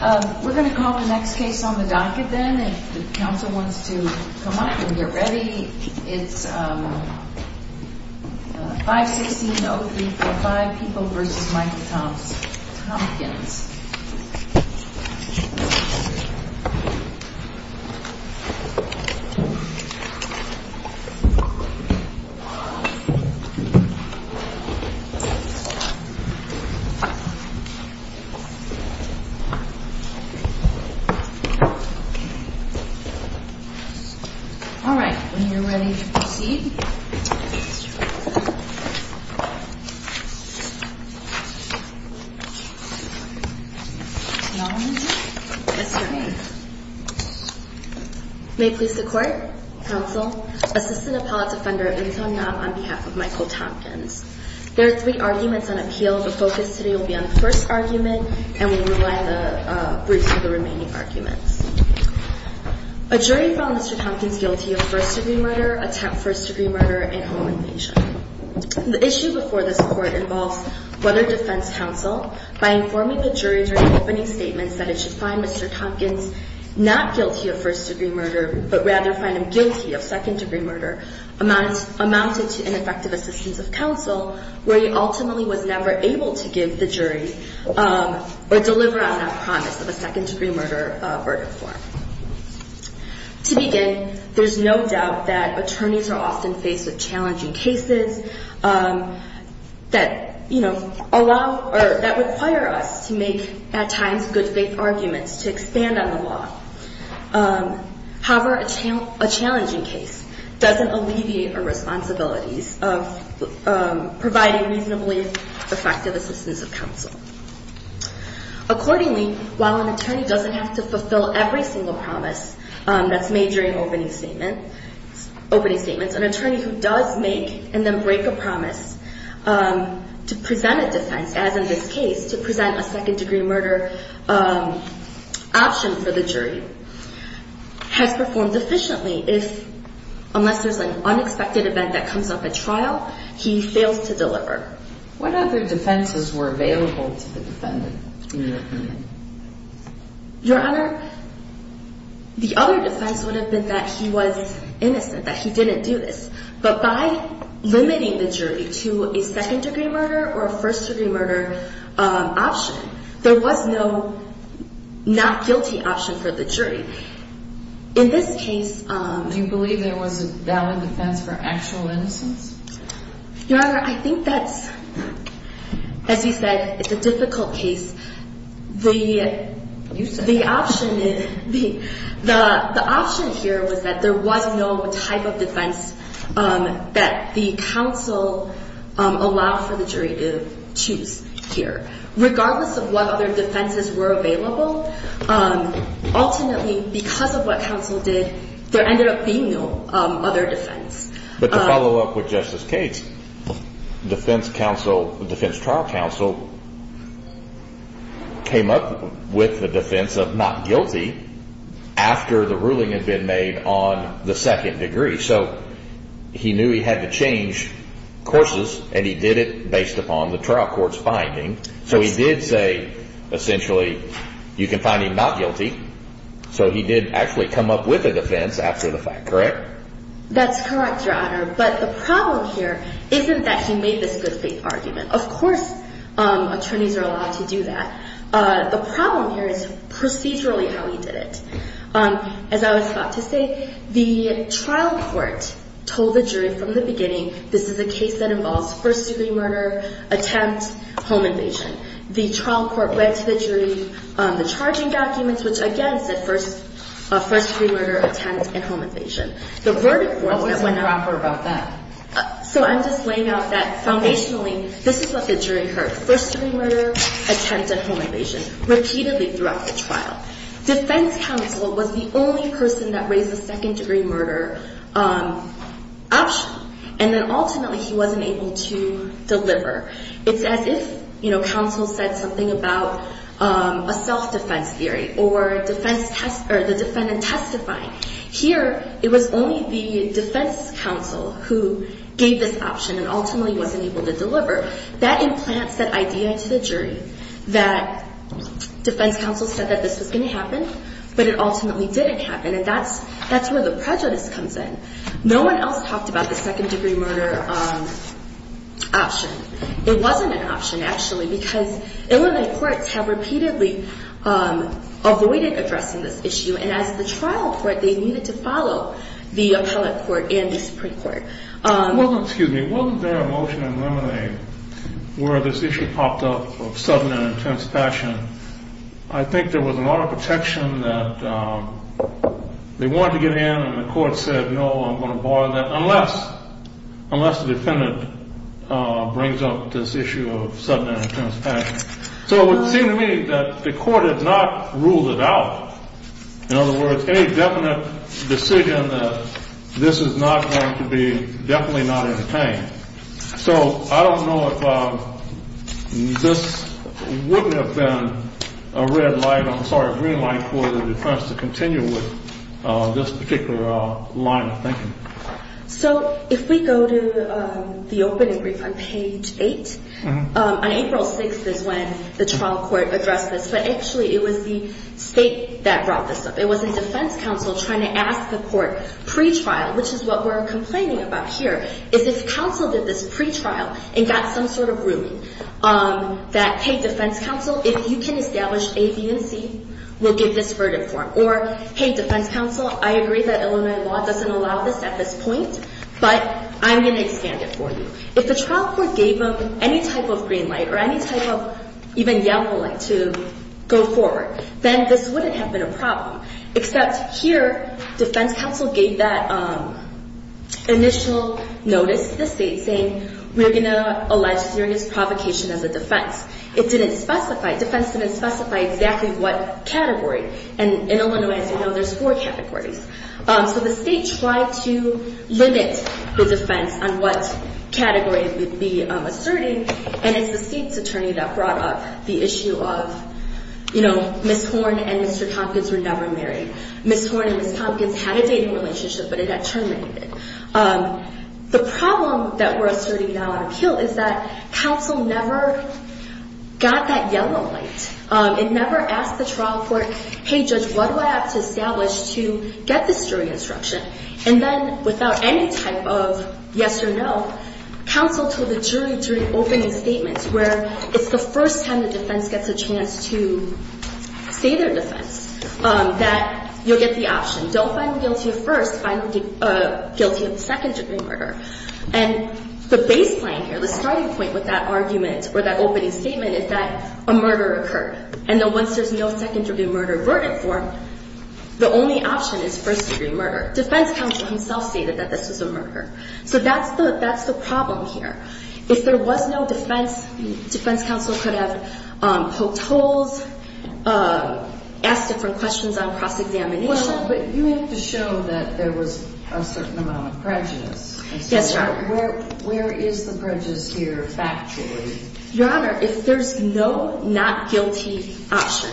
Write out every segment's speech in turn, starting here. We're going to call the next case on the docket then if the Council wants to come up and get ready. It's 516-0345, People v. Michael Thompkins. Alright, when you're ready to proceed. May I have your name? Yes, your name. May it please the Court, Counsel, Assistant Appellate Defender Enzo Knob on behalf of Michael Thompkins. There are three arguments on appeal. The focus today will be on the first argument, and we will rely on the briefs for the remaining arguments. A jury found Mr. Thompkins guilty of first-degree murder, attempt first-degree murder, and home invasion. The issue before this Court involves whether defense counsel, by informing the jury during opening statements that it should find Mr. Thompkins not guilty of first-degree murder, but rather find him guilty of second-degree murder, amounted to ineffective assistance of counsel, where he ultimately was never able to give the jury or deliver on that promise of a second-degree murder verdict for him. To begin, there's no doubt that attorneys are often faced with challenging cases that, you know, allow or that require us to make, at times, good faith arguments to expand on the law. However, a challenging case doesn't alleviate our responsibilities of providing reasonably effective assistance of counsel. Accordingly, while an attorney doesn't have to fulfill every single promise that's made during opening statements, an attorney who does make and then break a promise to present a defense, as in this case, to present a second-degree murder option for the jury, has performed efficiently if, unless there's an unexpected event that comes up at trial, he fails to deliver. What other defenses were available to the defendant, in your opinion? Your Honor, the other defense would have been that he was innocent, that he didn't do this. But by limiting the jury to a second-degree murder or a first-degree murder option, there was no not-guilty option for the jury. In this case... Do you believe there was a valid defense for actual innocence? Your Honor, I think that's, as you said, it's a difficult case. The option here was that there was no type of defense that the counsel allowed for the jury to choose here. Regardless of what other defenses were available, ultimately, because of what counsel did, there ended up being no other defense. But to follow up with Justice Cates, defense trial counsel came up with the defense of not guilty after the ruling had been made on the second degree. So he knew he had to change courses, and he did it based upon the trial court's finding. So he did say, essentially, you can find him not guilty. So he did actually come up with a defense after the fact, correct? That's correct, Your Honor. But the problem here isn't that he made this good-faith argument. Of course, attorneys are allowed to do that. The problem here is procedurally how he did it. As I was about to say, the trial court told the jury from the beginning, this is a case that involves first-degree murder, attempt, home invasion. The trial court read to the jury the charging documents, which, again, said first-degree murder, attempt, and home invasion. What was improper about that? So I'm just laying out that, foundationally, this is what the jury heard, first-degree murder, attempt, and home invasion, repeatedly throughout the trial. Defense counsel was the only person that raised the second-degree murder option. And then, ultimately, he wasn't able to deliver. It's as if counsel said something about a self-defense theory or the defendant testifying. Here, it was only the defense counsel who gave this option and ultimately wasn't able to deliver. That implants that idea to the jury that defense counsel said that this was going to happen, but it ultimately didn't happen. And that's where the prejudice comes in. No one else talked about the second-degree murder option. It wasn't an option, actually, because Illinois courts have repeatedly avoided addressing this issue. And as the trial court, they needed to follow the appellate court and the Supreme Court. Excuse me. Wasn't there a motion in Lemonade where this issue popped up of sudden and intense passion? I think there was an auto protection that they wanted to get in, and the court said, no, I'm going to bar that unless the defendant brings up this issue of sudden and intense passion. So it would seem to me that the court had not ruled it out. In other words, any definite decision that this is not going to be definitely not entertained. So I don't know if this wouldn't have been a red light. I'm sorry, a green light for the defense to continue with this particular line of thinking. So if we go to the opening brief on page eight, on April 6th is when the trial court addressed this. But actually, it was the state that brought this up. It was the defense counsel trying to ask the court pre-trial, which is what we're complaining about here, is if counsel did this pre-trial and got some sort of ruling that, hey, defense counsel, if you can establish A, B, and C, we'll give this verdict for them. Or, hey, defense counsel, I agree that Illinois law doesn't allow this at this point, but I'm going to expand it for you. If the trial court gave them any type of green light or any type of even yellow light to go forward, then this wouldn't have been a problem, except here defense counsel gave that initial notice to the state, saying we're going to allege serious provocation as a defense. It didn't specify, defense didn't specify exactly what category. And in Illinois, as you know, there's four categories. So the state tried to limit the defense on what category it would be asserting, and it's the state's attorney that brought up the issue of, you know, Ms. Horn and Mr. Tompkins were never married. Ms. Horn and Ms. Tompkins had a dating relationship, but it had terminated. The problem that we're asserting now in appeal is that counsel never got that yellow light. It never asked the trial court, hey, judge, what do I have to establish to get this jury instruction? And then without any type of yes or no, counsel told the jury during opening statements, where it's the first time the defense gets a chance to say their defense, that you'll get the option. Don't find them guilty at first, find them guilty of second-degree murder. And the baseline here, the starting point with that argument or that opening statement is that a murder occurred. And then once there's no second-degree murder verdict for them, the only option is first-degree murder. Defense counsel himself stated that this was a murder. So that's the problem here. If there was no defense, defense counsel could have poked holes, asked different questions on cross-examination. But you have to show that there was a certain amount of prejudice. Yes, Your Honor. Where is the prejudice here factually? Your Honor, if there's no not guilty option,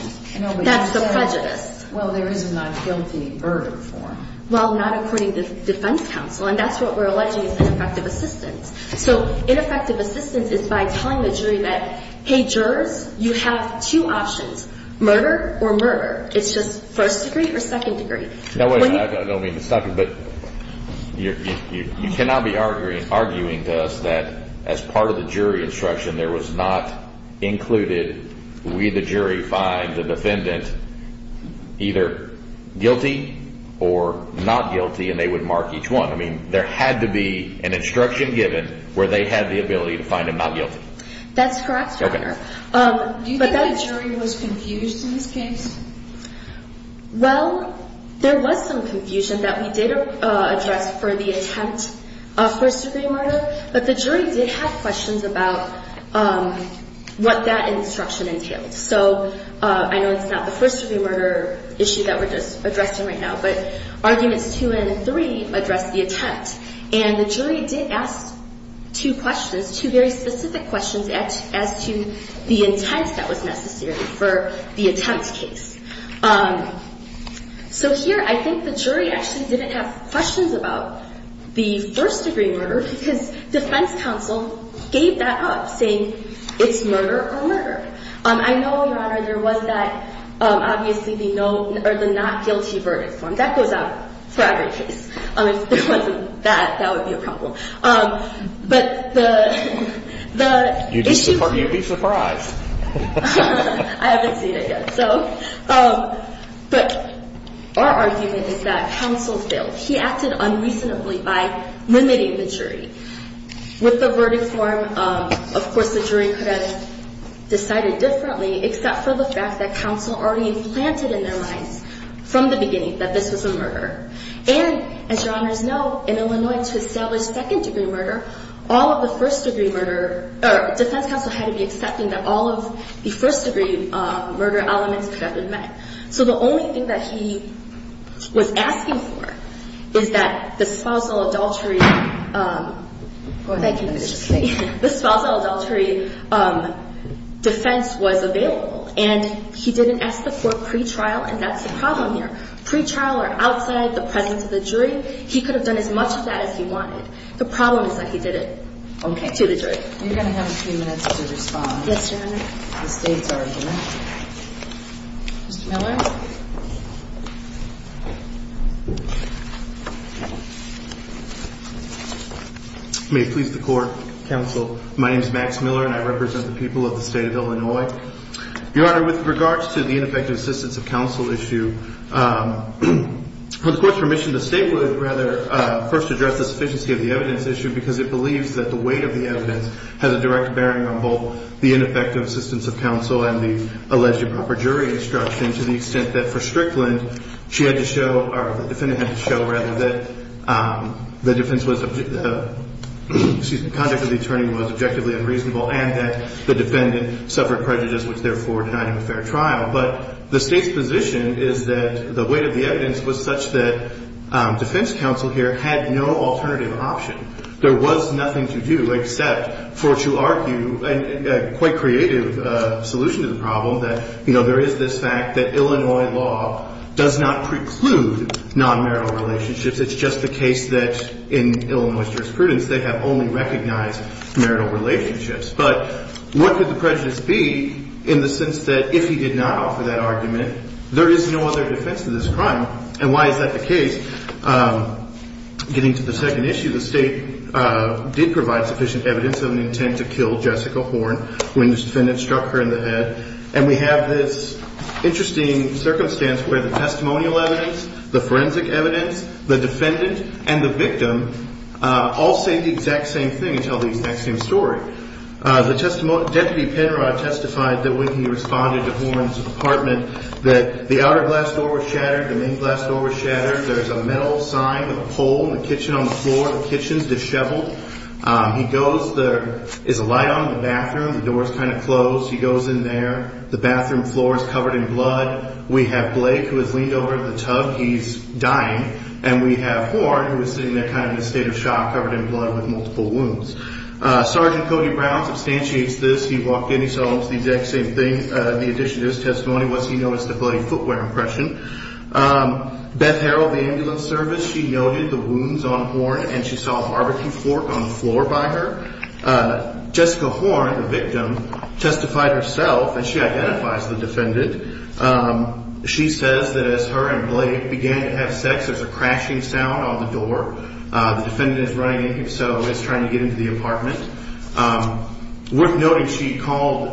that's the prejudice. Well, there is a not guilty verdict for them. Well, not according to defense counsel, and that's what we're alleging is ineffective assistance. So ineffective assistance is by telling the jury that, hey, jurors, you have two options, murder or murder. It's just first-degree or second-degree. No, wait a minute. I don't mean to stop you, but you cannot be arguing to us that as part of the jury instruction there was not included, we the jury find the defendant either guilty or not guilty, and they would mark each one. I mean, there had to be an instruction given where they had the ability to find him not guilty. That's correct, Your Honor. Do you think the jury was confused in this case? Well, there was some confusion that we did address for the attempt of first-degree murder, but the jury did have questions about what that instruction entailed. So I know it's not the first-degree murder issue that we're just addressing right now, but arguments two and three address the attempt, and the jury did ask two questions, two very specific questions as to the intent that was necessary for the attempt case. So here, I think the jury actually didn't have questions about the first-degree murder because defense counsel gave that up, saying it's murder or murder. I know, Your Honor, there was that, obviously, the not guilty verdict form. That goes out for every case. If it wasn't that, that would be a problem. But the issue is... You'd be surprised. I haven't seen it yet. But our argument is that counsel failed. He acted unreasonably by limiting the jury. With the verdict form, of course, the jury could have decided differently, except for the fact that counsel already implanted in their minds from the beginning that this was a murder. And, as Your Honors know, in Illinois, to establish second-degree murder, all of the first-degree murder... So the only thing that he was asking for is that the spousal adultery... Thank you. The spousal adultery defense was available. And he didn't ask for it pre-trial, and that's the problem here. Pre-trial or outside the presence of the jury, he could have done as much of that as he wanted. The problem is that he did it to the jury. You're going to have a few minutes to respond. Yes, Your Honor. The state's argument. Mr. Miller? May it please the Court, counsel, my name is Max Miller, and I represent the people of the state of Illinois. Your Honor, with regards to the ineffective assistance of counsel issue, with the court's permission, the state would rather first address the sufficiency of the evidence issue because it believes that the weight of the evidence has a direct bearing on both the ineffective assistance of counsel and the alleged improper jury instruction to the extent that, for Strickland, the defendant had to show that the conduct of the attorney was objectively unreasonable and that the defendant suffered prejudice, which therefore denied him a fair trial. But the state's position is that the weight of the evidence was such that defense counsel here had no alternative option. There was nothing to do except for to argue a quite creative solution to the problem, that, you know, there is this fact that Illinois law does not preclude nonmarital relationships. It's just the case that in Illinois jurisprudence they have only recognized marital relationships. But what could the prejudice be in the sense that if he did not offer that argument, there is no other defense to this crime, and why is that the case? Getting to the second issue, the state did provide sufficient evidence of an intent to kill Jessica Horne when this defendant struck her in the head, and we have this interesting circumstance where the testimonial evidence, the forensic evidence, the defendant, and the victim all say the exact same thing and tell the exact same story. The testimony, Deputy Penrod testified that when he responded to Horne's apartment that the outer glass door was shattered, the main glass door was shattered. There's a metal sign with a pole in the kitchen on the floor. The kitchen's disheveled. He goes. There is a light on in the bathroom. The door's kind of closed. He goes in there. The bathroom floor is covered in blood. We have Blake, who has leaned over the tub. He's dying. And we have Horne, who is sitting there kind of in a state of shock, covered in blood with multiple wounds. Sergeant Cody Brown substantiates this. He walked in. He saw the exact same thing. The addition to his testimony was he noticed a bloody footwear impression. Beth Harrell of the ambulance service, she noted the wounds on Horne, and she saw a barbecue fork on the floor by her. Jessica Horne, the victim, testified herself, and she identifies the defendant. She says that as her and Blake began to have sex, there's a crashing sound on the door. The defendant is running in. He's trying to get into the apartment. Worth noting, she called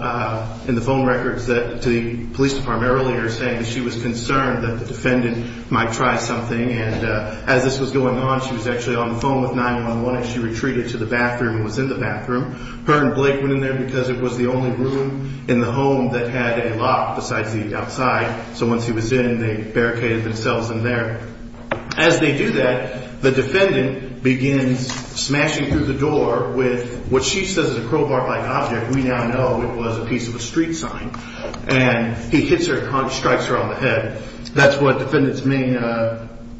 in the phone records to the police department earlier saying that she was concerned that the defendant might try something. And as this was going on, she was actually on the phone with 911, and she retreated to the bathroom and was in the bathroom. Her and Blake went in there because it was the only room in the home that had a lock besides the outside. So once he was in, they barricaded themselves in there. As they do that, the defendant begins smashing through the door with what she says is a crowbar-like object. We now know it was a piece of a street sign. And he hits her and strikes her on the head. That's what defendant's main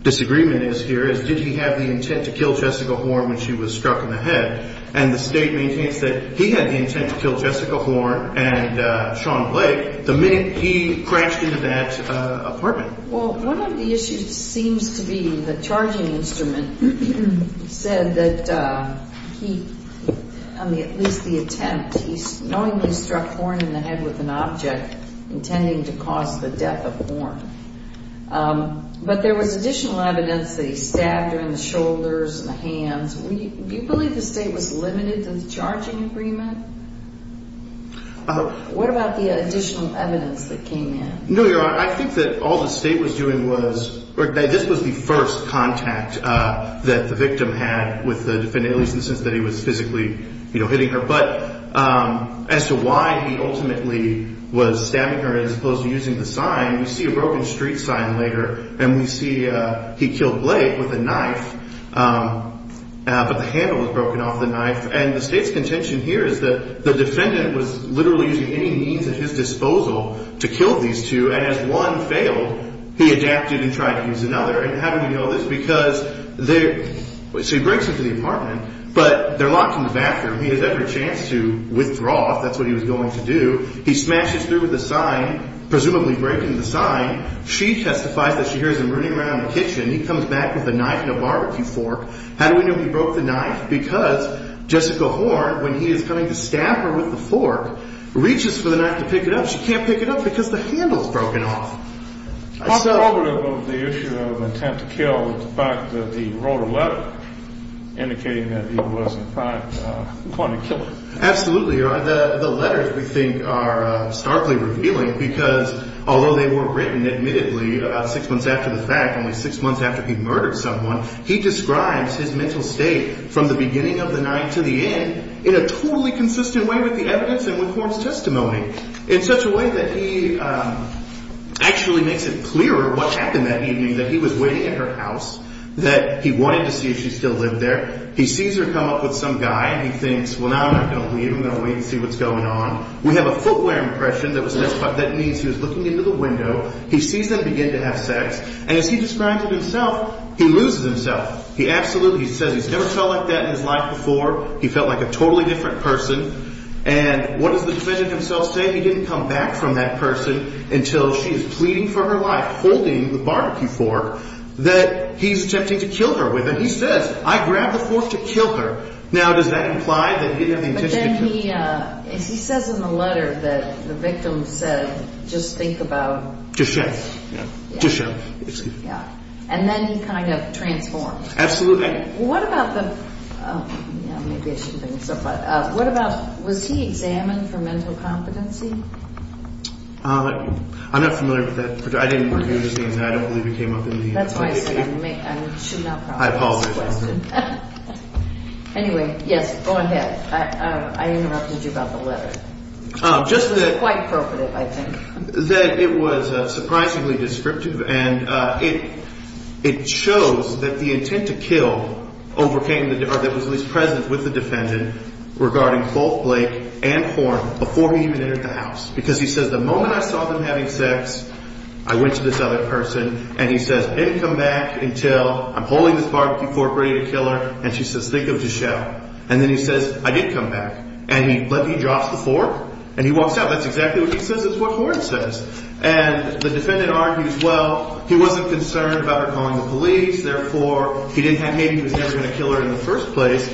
disagreement is here is did he have the intent to kill Jessica Horne when she was struck in the head. And the state maintains that he had the intent to kill Jessica Horne and Sean Blake the minute he crashed into that apartment. Well, one of the issues seems to be the charging instrument said that he, at least the attempt, he knowingly struck Horne in the head with an object intending to cause the death of Horne. But there was additional evidence that he stabbed her in the shoulders and the hands. Do you believe the state was limited to the charging agreement? What about the additional evidence that came in? No, Your Honor, I think that all the state was doing was, this was the first contact that the victim had with the defendant, at least in the sense that he was physically hitting her. But as to why he ultimately was stabbing her as opposed to using the sign, we see a broken street sign later and we see he killed Blake with a knife. But the handle was broken off the knife. And the state's contention here is that the defendant was literally using any means at his disposal to kill these two. And as one failed, he adapted and tried to use another. And how do we know this? Because they – so he breaks into the apartment, but they're locked in the bathroom. He has every chance to withdraw if that's what he was going to do. He smashes through with the sign, presumably breaking the sign. She testifies that she hears him running around the kitchen. He comes back with a knife and a barbecue fork. How do we know he broke the knife? Because Jessica Horne, when he is coming to stab her with the fork, reaches for the knife to pick it up. She can't pick it up because the handle is broken off. I'm sorry. On the issue of intent to kill, the fact that he wrote a letter indicating that he was, in fact, going to kill her. Absolutely, Your Honor. The letters, we think, are starkly revealing because although they were written, admittedly, about six months after the fact, only six months after he murdered someone, he describes his mental state from the beginning of the night to the end in a totally consistent way with the evidence and with Horne's testimony in such a way that he actually makes it clearer what happened that evening, that he was waiting at her house, that he wanted to see if she still lived there. He sees her come up with some guy and he thinks, well, no, I'm not going to leave. I'm going to wait and see what's going on. We have a footwear impression that means he was looking into the window. He sees them begin to have sex, and as he describes it himself, he loses himself. He absolutely says he's never felt like that in his life before. He felt like a totally different person. And what does the defendant himself say? He didn't come back from that person until she is pleading for her life, holding the barbecue fork that he's attempting to kill her with, and he says, I grabbed the fork to kill her. He says in the letter that the victim said, just think about it. Just shut up. And then he kind of transforms. Absolutely. What about the, maybe I shouldn't bring this up, but what about, was he examined for mental competency? I'm not familiar with that. I didn't review his names and I don't believe he came up in the investigation. That's why I said I should not promise to ask the question. I apologize. Anyway, yes, go ahead. I interrupted you about the letter. It was quite appropriate, I think. That it was surprisingly descriptive, and it shows that the intent to kill overcame, or that was at least present with the defendant, regarding both Blake and Horn before he even entered the house. Because he says, the moment I saw them having sex, I went to this other person, and he says, I didn't come back until I'm holding this barbecue fork ready to kill her. And she says, think of the show. And then he says, I did come back. And he drops the fork, and he walks out. That's exactly what he says is what Horn says. And the defendant argues, well, he wasn't concerned about her calling the police, therefore, he didn't have faith he was never going to kill her in the first place.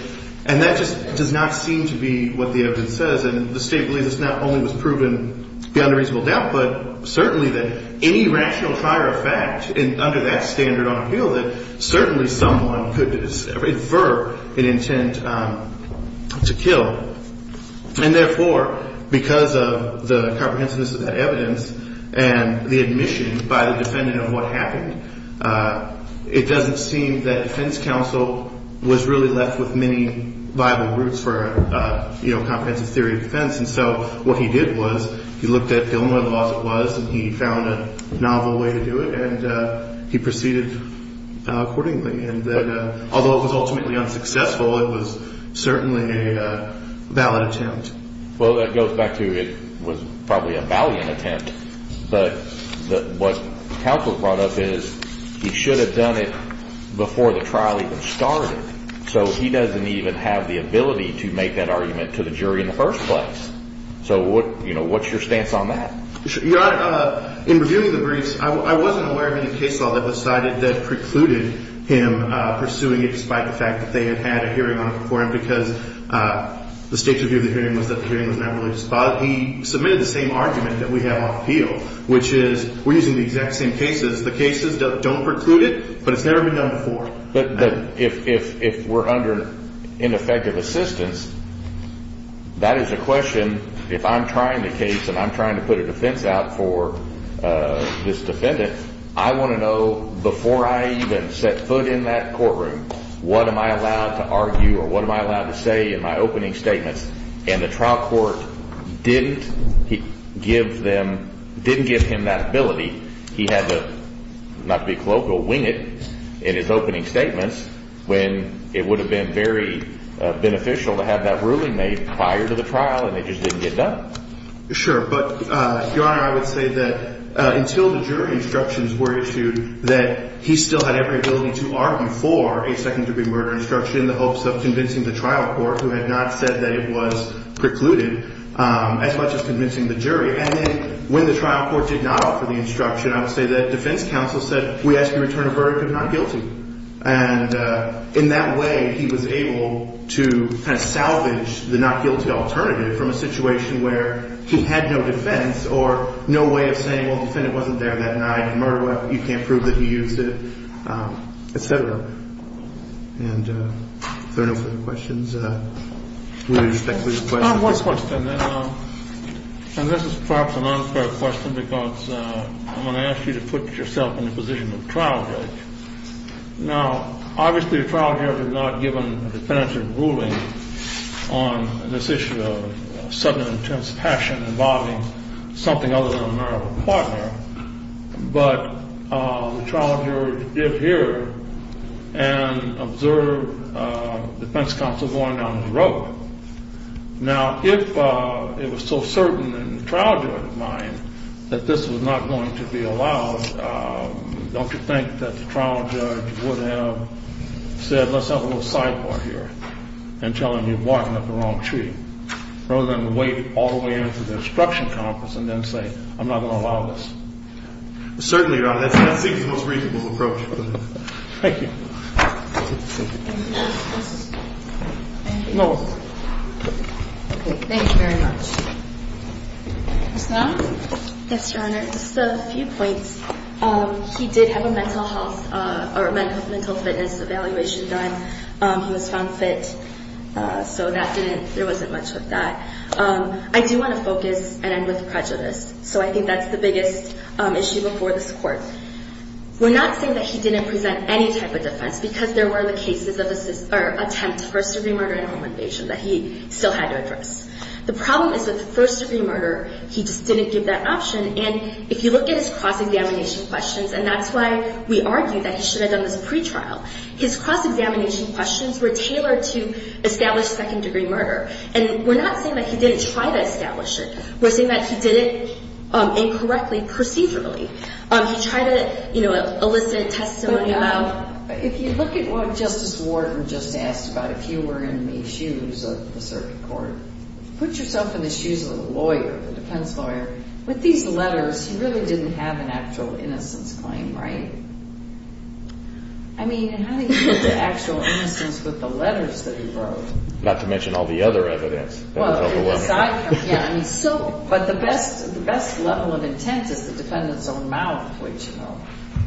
And that just does not seem to be what the evidence says. And the state believes this not only was proven beyond a reasonable doubt, but certainly that any rational prior effect under that standard on appeal, that certainly someone could infer an intent to kill. And therefore, because of the comprehensiveness of that evidence and the admission by the defendant of what happened, it doesn't seem that defense counsel was really left with many viable routes for comprehensive theory of defense. And so what he did was he looked at the only other laws it was, and he found a novel way to do it, and he proceeded accordingly. And although it was ultimately unsuccessful, it was certainly a valid attempt. Well, that goes back to it was probably a valiant attempt. But what counsel brought up is he should have done it before the trial even started. So he doesn't even have the ability to make that argument to the jury in the first place. So what's your stance on that? Your Honor, in reviewing the briefs, I wasn't aware of any case law that was cited that precluded him pursuing it, despite the fact that they had had a hearing on it before him because the state's view of the hearing was that the hearing was not really spotted. He submitted the same argument that we have on appeal, which is we're using the exact same cases. The cases don't preclude it, but it's never been done before. But if we're under ineffective assistance, that is a question, if I'm trying the case and I'm trying to put a defense out for this defendant, I want to know before I even set foot in that courtroom, what am I allowed to argue or what am I allowed to say in my opening statements? And the trial court didn't give him that ability. He had to, not to be colloquial, wing it in his opening statements when it would have been very beneficial to have that ruling made prior to the trial and it just didn't get done. Sure, but, Your Honor, I would say that until the jury instructions were issued, that he still had every ability to argue for a second-degree murder instruction in the hopes of convincing the trial court, who had not said that it was precluded, as much as convincing the jury. And then when the trial court did not offer the instruction, I would say that defense counsel said, we ask you to return a verdict of not guilty. And in that way, he was able to kind of salvage the not guilty alternative from a situation where he had no defense or no way of saying, well, the defendant wasn't there that night, a murder weapon, you can't prove that he used it, et cetera. And are there no further questions? I have one question. And this is perhaps an unfair question because I'm going to ask you to put yourself in the position of trial judge. Now, obviously, the trial jurors have not given a definitive ruling on this issue of sudden and intense passion involving something other than a murder of a partner, but the trial jurors did hear and observe defense counsel going down his rope. Now, if it was so certain in the trial judge's mind that this was not going to be allowed, don't you think that the trial judge would have said, let's have a little sidebar here and tell him you've walked up the wrong tree, rather than wait all the way into the instruction conference and then say, I'm not going to allow this? Certainly, Your Honor, that seems the most reasonable approach. Thank you. Thank you very much. Ms. Long? Yes, Your Honor. Just a few points. He did have a mental health or mental fitness evaluation done. He was found fit, so there wasn't much of that. I do want to focus and end with prejudice, so I think that's the biggest issue before this Court. We're not saying that he didn't present any type of defense because there were the cases of attempt to first-degree murder and home invasion that he still had to address. The problem is with first-degree murder, he just didn't give that option, and if you look at his cross-examination questions, and that's why we argue that he should have done this pretrial. His cross-examination questions were tailored to establish second-degree murder, and we're not saying that he didn't try to establish it. We're saying that he did it incorrectly procedurally. He tried to elicit testimony about it. If you look at what Justice Wharton just asked about, if you were in the shoes of the circuit court, put yourself in the shoes of a lawyer, a defense lawyer. With these letters, he really didn't have an actual innocence claim, right? I mean, how do you get to actual innocence with the letters that he wrote? Not to mention all the other evidence. But the best level of intent is the defendant's own mouth, which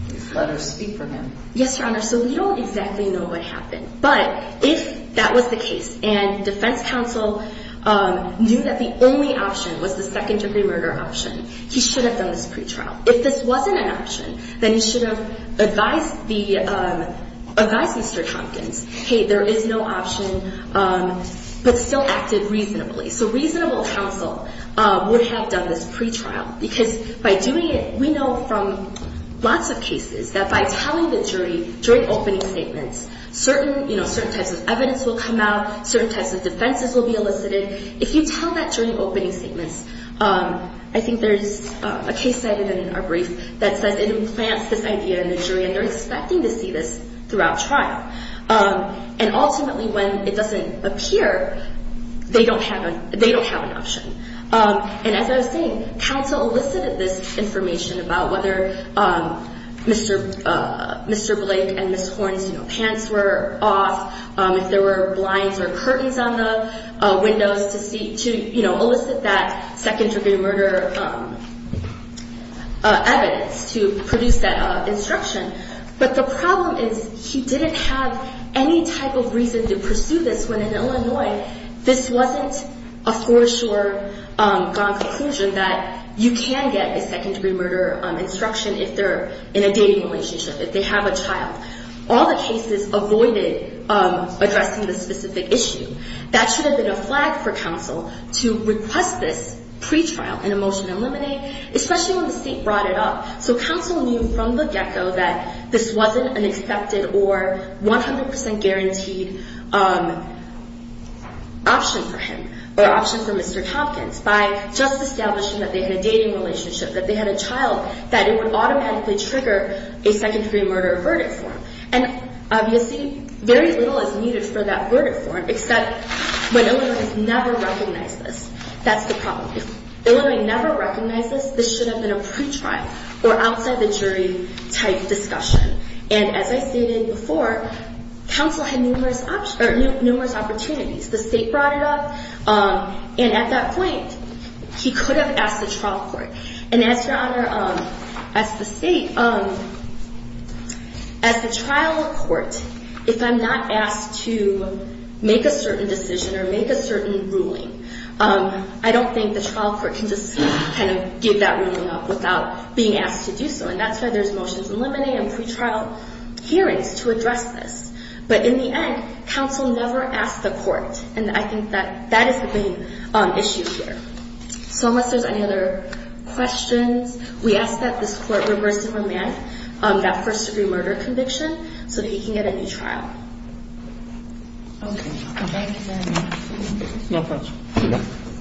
these letters speak for him. Yes, Your Honor, so we don't exactly know what happened, but if that was the case and defense counsel knew that the only option was the second-degree murder option, he should have done this pretrial. If this wasn't an option, then he should have advised Mr. Tompkins, hey, there is no option, but still acted reasonably. So reasonable counsel would have done this pretrial because by doing it, we know from lots of cases that by telling the jury during opening statements, certain types of evidence will come out, certain types of defenses will be elicited. If you tell that during opening statements, I think there's a case cited in our brief that says it implants this idea in the jury, and they're expecting to see this throughout trial. And ultimately when it doesn't appear, they don't have an option. And as I was saying, counsel elicited this information about whether Mr. Blake and Ms. Horn's pants were off, if there were blinds or curtains on the windows to elicit that second-degree murder evidence to produce that instruction. But the problem is he didn't have any type of reason to pursue this when in Illinois, this wasn't a foreshore-gone-conclusion that you can get a second-degree murder instruction if they're in a dating relationship, if they have a child. All the cases avoided addressing this specific issue. That should have been a flag for counsel to request this pretrial in a motion to eliminate, especially when the state brought it up. So counsel knew from the get-go that this wasn't an expected or 100% guaranteed option for him or option for Mr. Tompkins by just establishing that they had a dating relationship, that they had a child, that it would automatically trigger a second-degree murder verdict for him. And obviously very little is needed for that verdict for him, except when Illinois never recognized this. That's the problem. If Illinois never recognized this, this should have been a pretrial or outside-the-jury-type discussion. And as I stated before, counsel had numerous opportunities. The state brought it up, and at that point, he could have asked the trial court. And as your Honor, as the state, as the trial court, if I'm not asked to make a certain decision or make a certain ruling, I don't think the trial court can just kind of give that ruling up without being asked to do so. And that's why there's motions to eliminate and pretrial hearings to address this. But in the end, counsel never asked the court, and I think that that is the main issue here. So unless there's any other questions, we ask that this court reverse the remand, that first-degree murder conviction, so that he can get a new trial. Okay. Thank you very much. No problem.